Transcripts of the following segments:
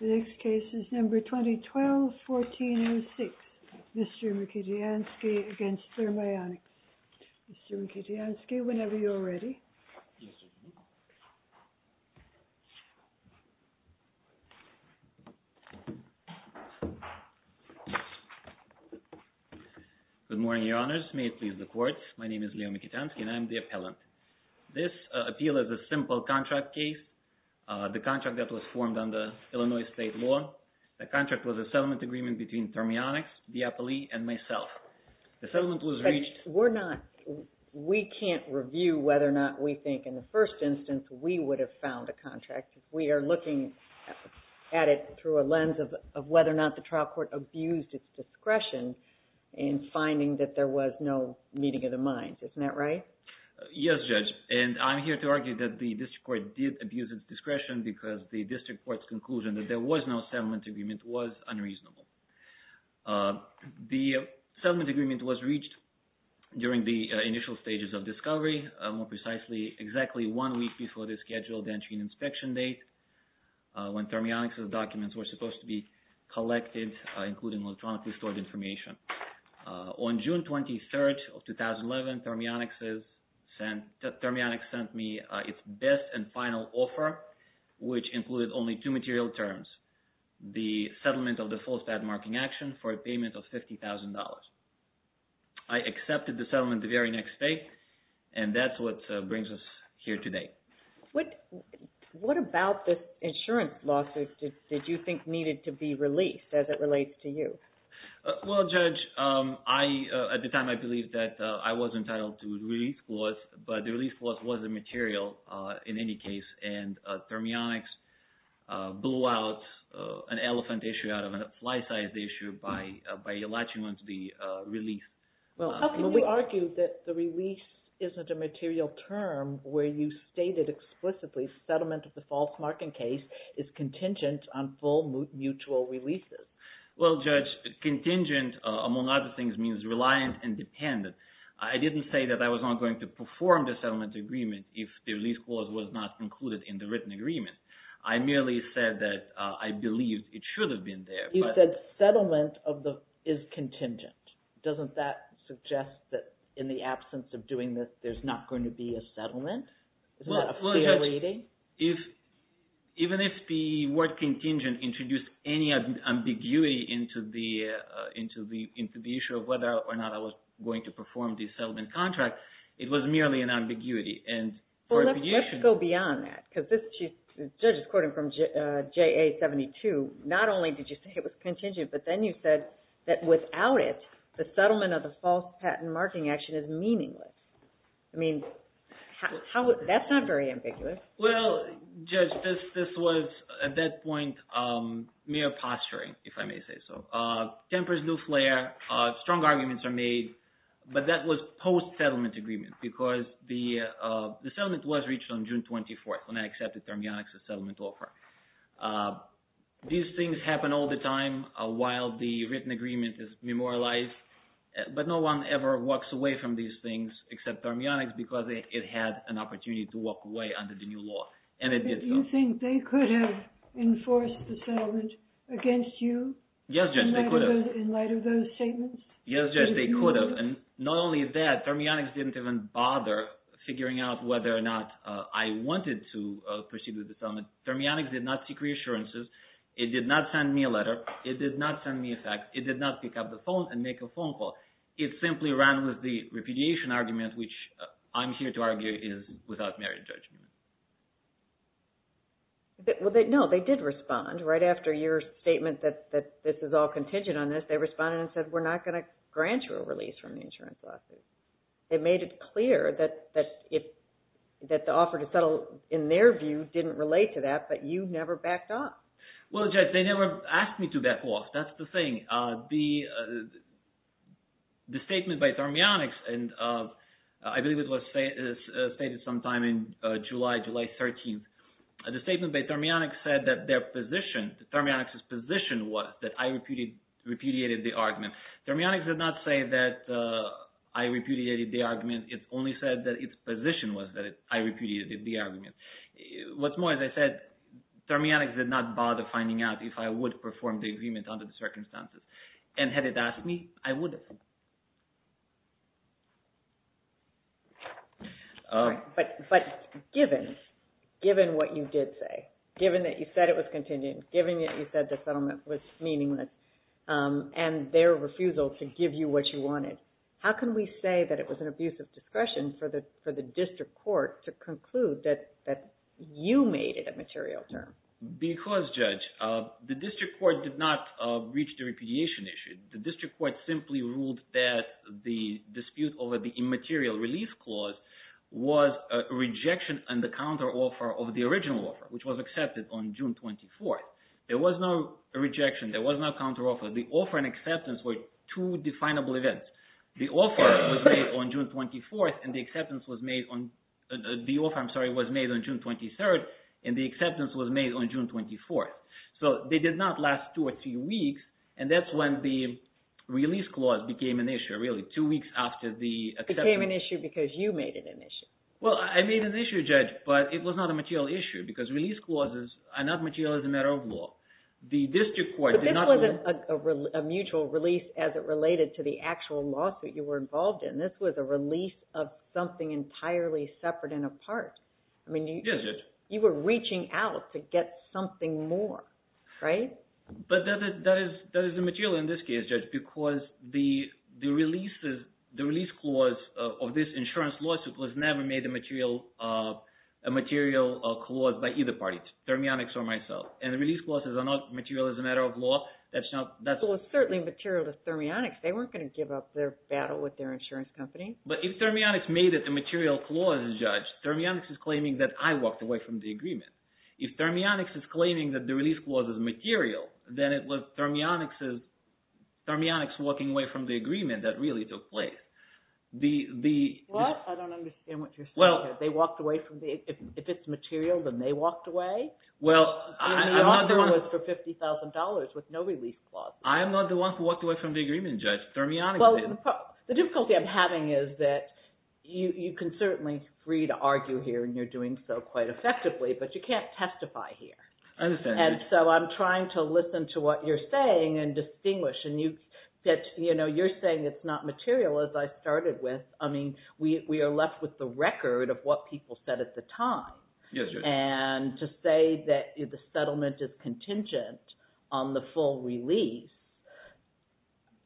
The next case is number 2012-14-06. Mr. Mikitianskiy against Thermionics. Mr. Mikitianskiy, whenever you are ready. Good morning, your honors. May it please the court. My name is Leonid Mikitianskiy and I'm the appellant. This appeal is a simple contract case. The contract that was formed under Illinois state law. The contract was a settlement agreement between Thermionics, the appellee, and myself. We can't review whether or not we think in the first instance we would have found a contract. We are looking at it through a lens of whether or not the trial court abused its discretion in finding that there was no meeting of the minds. Isn't that right? Yes, judge. And I'm here to argue that the district court did abuse its discretion because the district court's conclusion that there was no settlement agreement was unreasonable. The settlement agreement was reached during the initial stages of discovery, more precisely exactly one week before the scheduled entry and inspection date when Thermionics' documents were supposed to be collected, including electronically stored information. On June 23rd of 2011, Thermionics sent me its best and final offer, which included only two material terms, the settlement of the false bad marking action for a payment of $50,000. I accepted the settlement the very next day and that's what brings us here today. What about this insurance lawsuit did you think needed to be released as it relates to you? Well, judge, at the time I believed that I was entitled to a release clause, but the release clause wasn't material in any case and Thermionics blew out an elephant issue out of a fly-sized issue by allotting one to the release. Well, how can you argue that the release isn't a material term where you stated explicitly settlement of the false marking case is contingent on full mutual releases? Well, judge, contingent, among other things, means reliant and dependent. I didn't say that I was not going to perform the settlement agreement if the release clause was not included in the written agreement. I merely said that I believed it should have been there. You said settlement is contingent. Doesn't that suggest that in the absence of doing this there's not going to be a settlement? Isn't that a fair reading? Even if the word contingent introduced any ambiguity into the issue of whether or not I was going to perform the settlement contract, it was merely an ambiguity. Let's go beyond that. The judge is quoting from JA-72. Not only did you say it was contingent, but then you said that without it the settlement of the false patent marking action is meaningless. That's not very ambiguous. Well, judge, at that point, mere posturing, if I may say so. Tempers do flare, strong arguments are made, but that was post-settlement agreement because the settlement was reached on June 24th when I accepted Thermionics as settlement law firm. These things happen all the time while the written agreement is memorialized, but no one ever walks away from these things except Thermionics because it had an opportunity to walk away under the new law, and it did not. Do you think they could have enforced the settlement against you? Yes, judge, they could have. In light of those statements? Yes, judge, they could have, and not only that, Thermionics didn't even bother figuring out whether or not I wanted to proceed with the settlement. Thermionics did not seek reassurances. It did not send me a letter. It did not send me a fax. It did not pick up the phone and make a phone call. It simply ran with the No, they did respond. Right after your statement that this is all contingent on this, they responded and said, we're not going to grant you a release from the insurance lawsuit. They made it clear that the offer to settle, in their view, didn't relate to that, but you never backed off. Well, judge, they never asked me to back off. That's the thing. The statement by Thermionics, and I believe it was stated sometime in July, July 13th, the statement by Thermionics said that their position, Thermionics' position was that I repudiated the argument. Thermionics did not say that I repudiated the argument. It only said that its position was that I repudiated the argument. What's more, as I said, Thermionics did not bother finding out if I would perform the agreement under the circumstances, and had they asked me, I would have. But given what you did say, given that you said it was contingent, given that you said the settlement was meaningless, and their refusal to give you what you wanted, how can we say that it was an abuse of discretion for the district court to conclude that you made it a material term? Because, judge, the district court did not reach the repudiation issue. The district court simply ruled that the dispute over the immaterial relief clause was a rejection and the counteroffer of the original offer, which was accepted on June 24th. There was no rejection. There was no counteroffer. The offer and acceptance were two definable events. The offer was made on June 24th, and the acceptance was made on – the offer, I'm sorry, was made on June 23rd, and the acceptance was made on June 24th. So they did not last two or three weeks, and that's when the release clause became an issue, really, two weeks after the acceptance. It became an issue because you made it an issue. Well, I made it an issue, judge, but it was not a material issue, because release clauses are not material as a matter of law. The district court did not – But this wasn't a mutual release as it related to the actual lawsuit you were involved in. This was a release of something entirely separate and apart. Yes, judge. I mean, you were reaching out to get something more, right? But that is immaterial in this case, judge, because the release clause of this insurance lawsuit was never made a material clause by either party, Thermionics or myself, and the release clauses are not material as a matter of law. That's not – Well, it's certainly material to Thermionics. They weren't going to give up their battle with their insurance company. But if Thermionics made it a material clause, judge, Thermionics is claiming that I walked away from the agreement. If Thermionics is claiming that the release clause is material, then it was Thermionics' walking away from the agreement that really took place. What? I don't understand what you're saying here. They walked away from the – if it's material, then they walked away? Well, I'm not the one – Thermionics was for $50,000 with no release clauses. I'm not the one who walked away from the agreement, judge. Thermionics didn't. The difficulty I'm having is that you can certainly free to argue here, and you're doing so quite effectively, but you can't testify here. I understand. And so I'm trying to listen to what you're saying and distinguish. And you said – you're saying it's not material, as I started with. I mean, we are left with the record of what people said at the time. And to say that the settlement is contingent on the full release,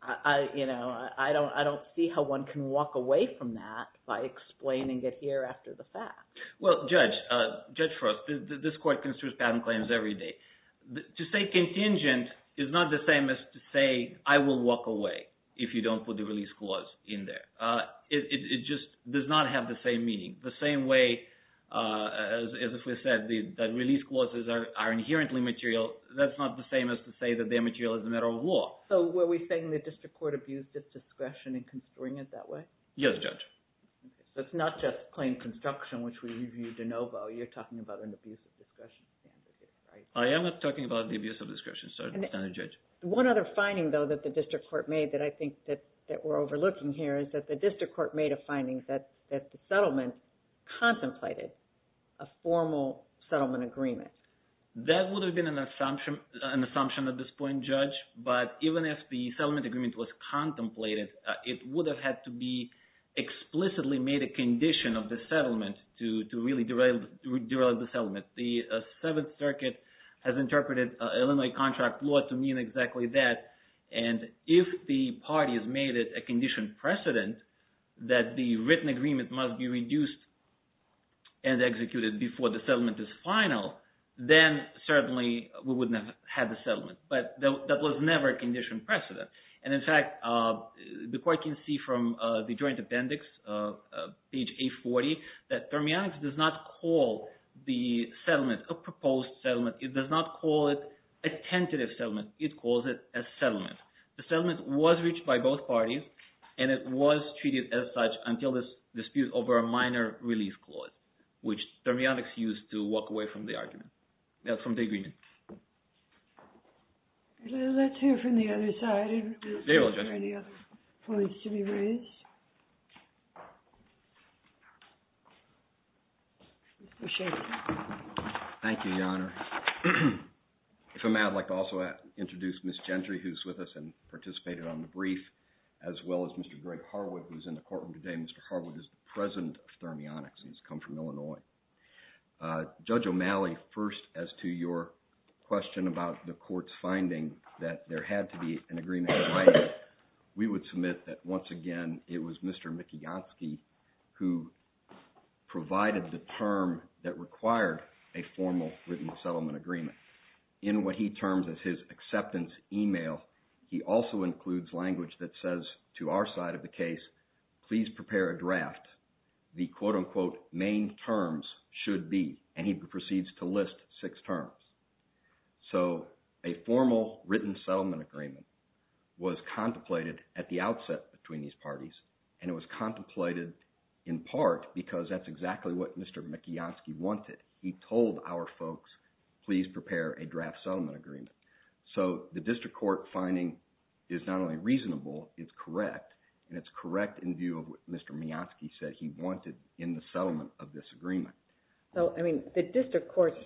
I don't see how one can walk away from that by explaining it here after the fact. Well, judge, judge Frost, this court construes patent claims every day. To say contingent is not the same as to say, I will walk away if you don't put the release clause in there. It just does not have the same meaning. The same way, as if we said, the release clauses are inherently material, that's not the same as to say that they're material as a matter of law. So were we saying the district court abused its discretion in construing it that way? Yes, judge. So it's not just claim construction, which we reviewed de novo. You're talking about an abuse of discretion standard, right? I am not talking about the abuse of discretion standard, judge. One other finding, though, that the district court made that I think that we're overlooking here is that the district court made a finding that the settlement contemplated a formal settlement agreement. That would have been an assumption at this point, judge, but even if the settlement agreement was contemplated, it would have had to be explicitly made a condition of the settlement to really derail the settlement. The Seventh Circuit has interpreted Illinois contract law to mean exactly that, and if the parties made it a conditioned precedent that the written agreement must be reduced and executed before the settlement is final, then certainly we wouldn't have had the settlement. But that was never a conditioned precedent, and in fact, the court can see from the joint appendix, page 840, that thermionics does not call the settlement a proposed settlement. It does not call it a tentative settlement. It calls it a settlement. The settlement was reached by both parties, and it was treated as such until this dispute over a minor release clause, which thermionics used to walk away from the argument. That's from Day-Green. Let's hear from the other side and see if there are any other points to be raised. Thank you, Your Honor. If I may, I'd like to also introduce Ms. Gentry, who's with us and participated on the brief, as well as Mr. Greg Harwood, who's in the courtroom today. Mr. Harwood is the president of Thermionics. He's come from Illinois. Judge O'Malley, first, as to your question about the court's finding that there had to be an agreement in writing, we would submit that, once again, it was Mr. Mikiansky who provided the term that required a formal written settlement agreement. In what he terms as his acceptance email, he also includes language that says, to our side of the case, please prepare a draft. The quote-unquote main terms should be, and he proceeds to list six terms. So a formal written settlement agreement was contemplated at the outset between these parties, and it was contemplated in part because that's exactly what Mr. Mikiansky wanted. He told our folks, please prepare a draft settlement agreement. So the district court finding is not only reasonable, it's correct, and it's correct in view of what Mr. Mikiansky said he wanted in the settlement of this agreement. So, I mean, the district court's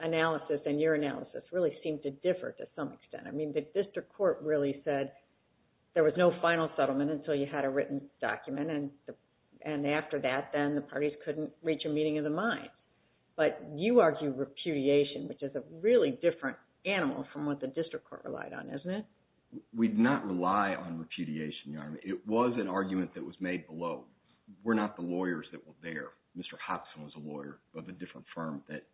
analysis and your analysis really seem to differ to some extent. I mean, the district court really said there was no final settlement until you had a written document, and after that, then the parties couldn't reach a meeting of the mind. But you argue repudiation, which is a really different animal from what the district court relied on, isn't it? We did not rely on repudiation, Your Honor. It was an argument that was made below. We're not the lawyers that were there. Mr. Hopson was a lawyer of a different firm that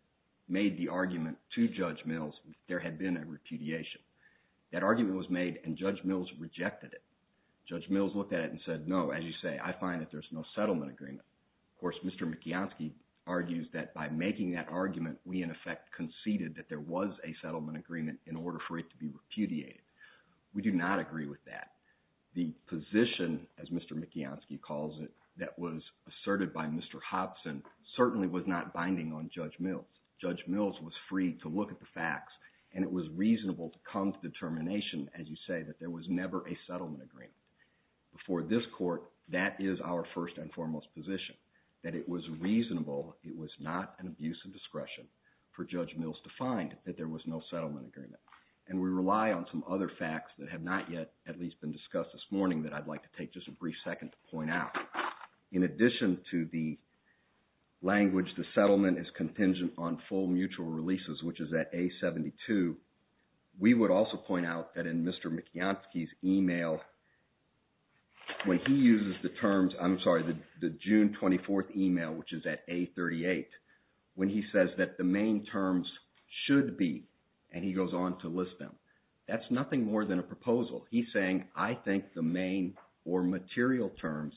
made the argument to Judge Mills that there had been a repudiation. That argument was made, and Judge Mills rejected it. Judge Mills looked at it and said, no, as you say, I find that there's no settlement agreement. Of course, Mr. Mikiansky argues that by making that argument, we in effect conceded that there was a settlement agreement in order for it to be repudiated. We do not agree with that. The position, as Mr. Mikiansky calls it, that was asserted by Mr. Hopson certainly was not binding on Judge Mills. Judge Mills was free to look at the facts, and it was reasonable to come to the determination, as you say, that there was never a settlement agreement. For this court, that is our first and foremost position, that it was reasonable, it was not an abuse of discretion for Judge Mills to find that there was no settlement agreement. And we rely on some other facts that have not yet at least been discussed this morning that I'd like to take just a brief second to point out. In addition to the language, the settlement is contingent on full mutual releases, which is at A72, we would also point out that in Mr. Mikiansky's email, when he uses the terms, I'm sorry, the June 24th email, which is at A38, when he says that the main terms should be, and he goes on to list them, that's nothing more than a proposal. He's saying, I think the main or material terms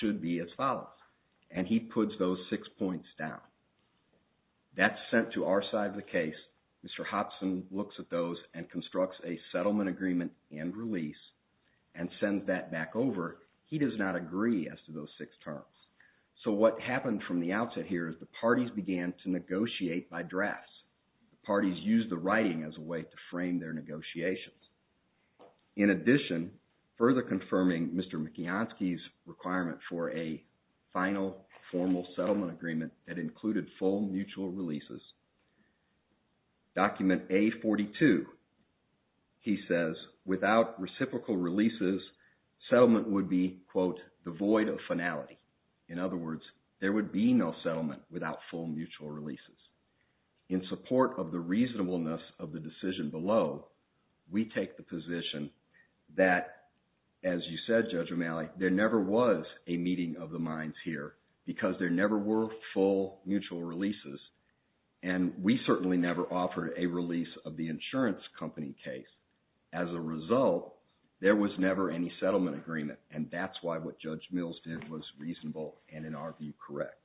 should be as follows. And he puts those six points down. That's sent to our side of the case. Mr. Hopson looks at those and constructs a settlement agreement and release and sends that back over. He does not agree as to those six terms. So what happened from the outset here is the parties began to negotiate by drafts. The parties used the writing as a way to frame their negotiations. In addition, further confirming Mr. Mikiansky's requirement for a final formal settlement agreement that included full mutual releases, document A42, he says, without reciprocal releases, settlement would be, quote, the void of finality. In other words, there would be no settlement without full mutual releases. In support of the reasonableness of the decision below, we take the position that, as you said, Judge O'Malley, there never was a meeting of the minds here because there never were full mutual releases, and we certainly never offered a release of the insurance company case. As a result, there was never any settlement agreement, and that's why what Judge Mills did was reasonable and, in our view, correct.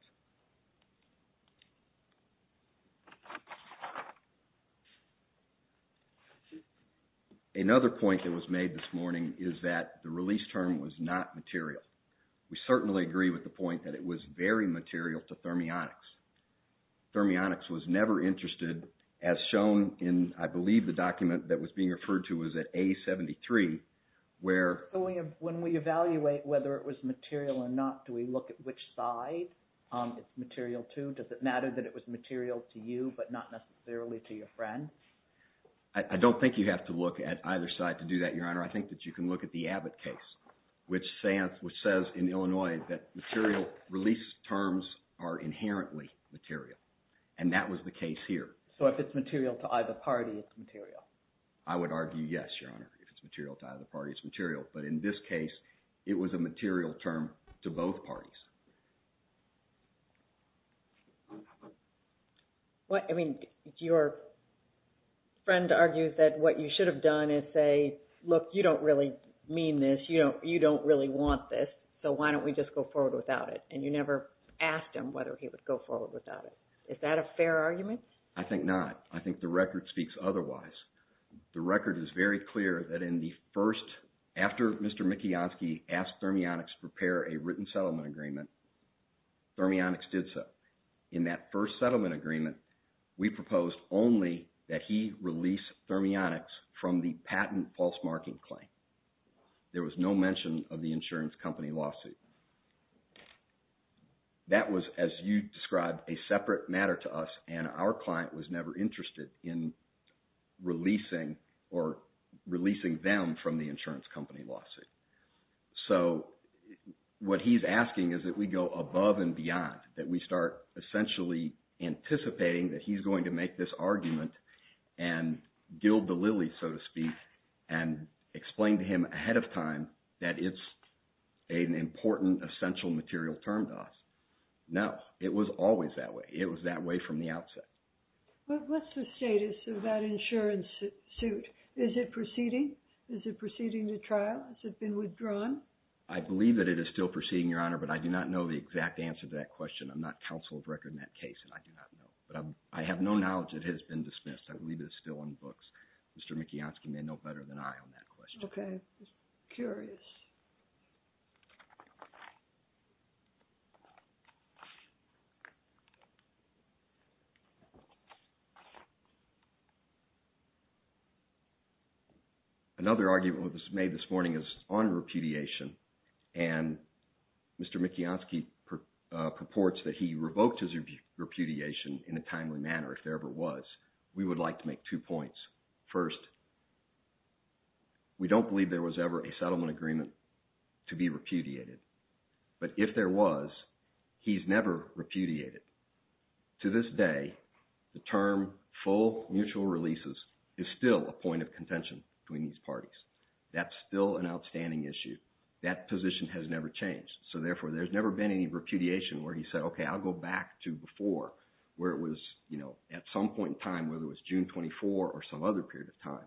Another point that was made this morning is that the release term was not material. We certainly agree with the point that it was very material to Thermionics. Thermionics was never interested, as shown in, I believe, the document that was being referred to as A73, where... When we evaluate whether it was material or not, do we look at which side it's material to? Does it matter that it was material to you, but not necessarily to your friend? I don't think you have to look at either side to do that, Your Honor. I think that you can look at the Abbott case, which says in Illinois that material release terms are inherently material, and that was the case here. So if it's material to either party, it's material. I would argue, yes, Your Honor, if it's material to either party, it's material, but in this case, it was a material term to both parties. I mean, your friend argues that what you should have done is say, look, you don't really mean this, you don't really want this, so why don't we just go forward without it? And you never asked him whether he would go forward without it. Is that a fair argument? I think not. I think the record speaks otherwise. The record is very clear that in the first... in the first settlement agreement, Thermionics did so. In that first settlement agreement, we proposed only that he release Thermionics from the patent false marking claim. There was no mention of the insurance company lawsuit. That was, as you described, a separate matter to us, and our client was never interested in releasing or releasing them from the insurance company lawsuit. So what he's asking is that we go above and beyond, that we start essentially anticipating that he's going to make this argument and dill the lilies, so to speak, and explain to him ahead of time that it's an important, essential material term to us. No, it was always that way. It was that way from the outset. What's the status of that insurance suit? Is it proceeding? Is it proceeding to trial? Has it been withdrawn? I believe that it is still proceeding, Your Honor, but I do not know the exact answer to that question. I'm not counsel of record in that case, and I do not know. But I have no knowledge that it has been dismissed. I believe it is still in books. Mr. Mikiansky may know better than I on that question. Okay. Curious. Another argument that was made this morning is on repudiation, and Mr. Mikiansky purports that he revoked his repudiation in a timely manner, if there ever was. We would like to make two points. First, we don't believe there was ever a settlement agreement to be repudiated, but if there was, he's never repudiated. To this day, the term full mutual releases is still a point of contention between these parties. That's still an outstanding issue. That position has never changed. So therefore, there's never been any repudiation where he said, okay, I'll go back to before, where it was, you know, at some point in time, whether it was June 24 or some other period of time,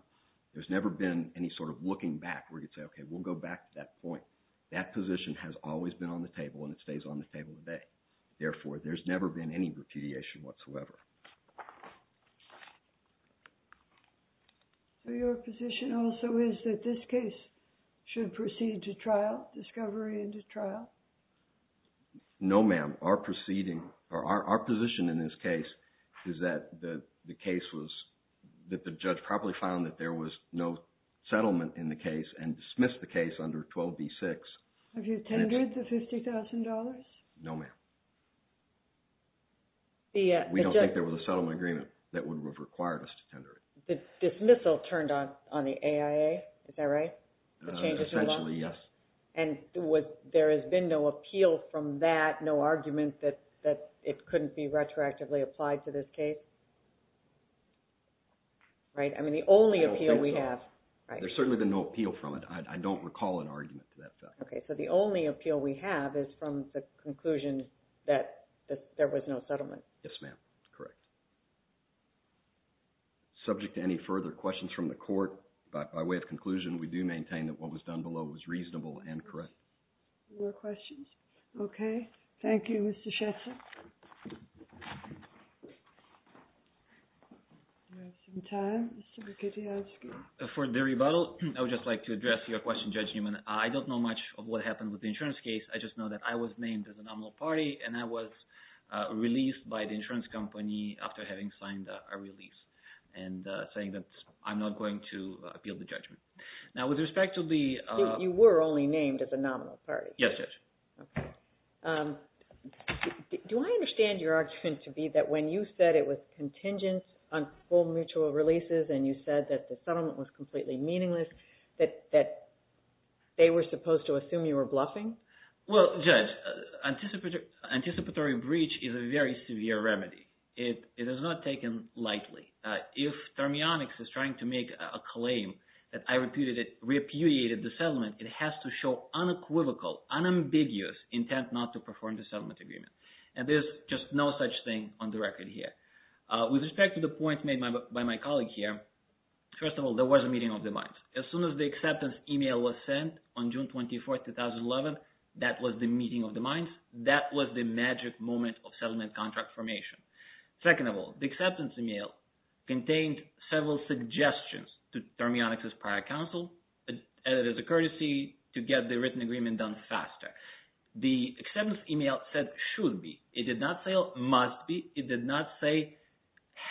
there's never been any sort of looking back where he'd say, okay, we'll go back to that point. That position has always been on the table, and it stays on the table today. Therefore, there's never been any repudiation whatsoever. Your position also is that this case should proceed to trial, discovery into trial? No, ma'am. Our position in this case is that the judge probably found that there was no settlement in the case and dismissed the case under 12b-6. Have you tendered the $50,000? No, ma'am. We don't think there was a settlement agreement that would have required us to tender it. The dismissal turned on the AIA, is that right? Essentially, yes. And there has been no appeal from that, no argument that it couldn't be retroactively applied to this case? Right? I mean, the only appeal we have... There's certainly been no appeal from it. I don't recall an argument to that fact. Okay. So the only appeal we have is from the conclusion that there was no settlement? Yes, ma'am. Correct. Subject to any further questions from the court, by way of conclusion, we do maintain that what was done below was reasonable and correct. More questions? Okay. Thank you, Mr. Shetzer. Do we have some time, Mr. Bukatyansky? For the rebuttal, I would just like to address your question, Judge Newman. I don't know much of what happened with the insurance case. I just know that I was named as a nominal party, and I was released by the insurance company after having signed a release, and saying that I'm not going to appeal the judgment. Now, with respect to the... You were only named as a nominal party. Yes, Judge. Do I understand your argument to be that when you said it was contingent on full mutual releases and you said that the settlement was completely meaningless, that they were supposed to assume you were bluffing? Well, Judge, anticipatory breach is a very severe remedy. It is not taken lightly. If Thermionix is trying to make a claim that I repudiated the settlement, it has to show unequivocal, unambiguous intent not to perform the settlement agreement. And there's just no such thing on the record here. With respect to the point made by my colleague here, first of all, there was a meeting of the minds. As soon as the acceptance email was sent on June 24, 2011, that was the meeting of the minds. That was the magic moment of settlement contract formation. Second of all, the acceptance email contained several suggestions to Thermionix's prior counsel as a courtesy to get the written agreement done faster. The acceptance email said should be. It did not say must be. It did not say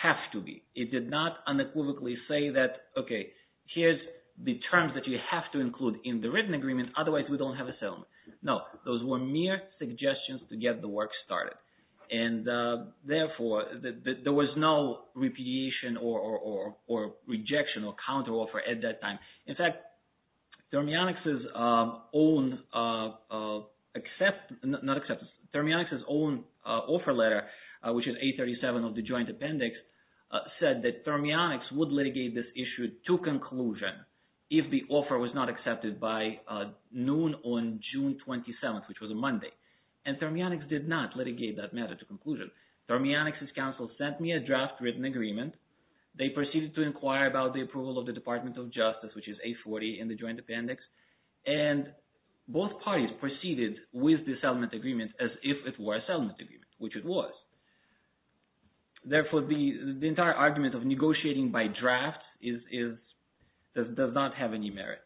have to be. It did not unequivocally say that, okay, here's the terms that you have to include in the written agreement. Otherwise, we don't have a settlement. No, those were mere suggestions to get the work started. And therefore, there was no repudiation or rejection or counteroffer at that time. In fact, Thermionix's own offer letter, which is 837 of the joint appendix, said that Thermionix would litigate this issue to conclusion if the offer was not accepted by noon on June 27, which was a Monday. And Thermionix did not litigate that matter to conclusion. Thermionix's counsel sent me a draft written agreement. They proceeded to inquire about the approval of the Department of Justice, which is 840 in the joint appendix. And both parties proceeded with the settlement agreement as if it were a settlement agreement, which it was. Therefore, the entire argument of negotiating by draft does not have any merit.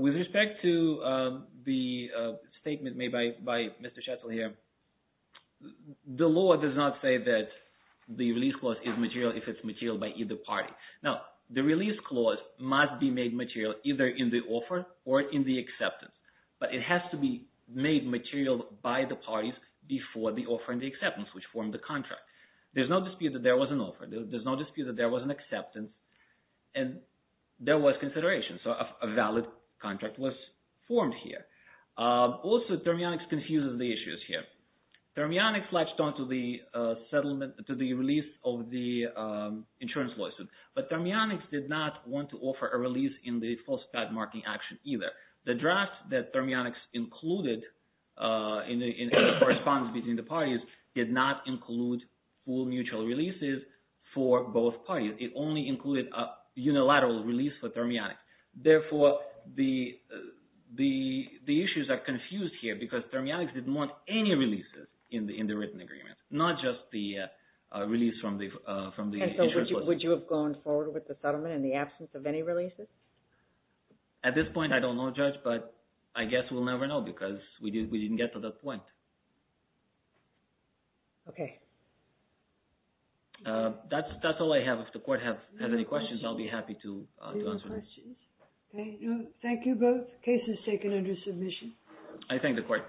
With respect to the statement made by Mr. Schetzel here, the law does not say that the release clause is material if it's material by either party. Now, the release clause must be made material either in the offer or in the acceptance, but it has to be made material by the parties before the offer and the acceptance, which form the contract. There's no dispute that there was an offer. There's no dispute that there was an acceptance and there was consideration. So a valid contract was formed here. Also, Thermionix confuses the issues here. Thermionix latched onto the release of the insurance lawsuit, but Thermionix did not want to offer a release in the false flag marking action either. The draft that Thermionix included in the correspondence between the parties did not include full mutual releases for both parties. It only included a unilateral release for Thermionix. Therefore, the issues are confused here because Thermionix didn't want any releases in the written agreement, not just the release from the insurance lawsuit. And so would you have gone forward with the settlement in the absence of any releases? At this point, I don't know, Judge, but I guess we'll never know because we didn't get to that point. Okay. That's all I have. If the court has any questions, I'll be happy to answer them. Thank you, both cases taken under submission. I thank the court.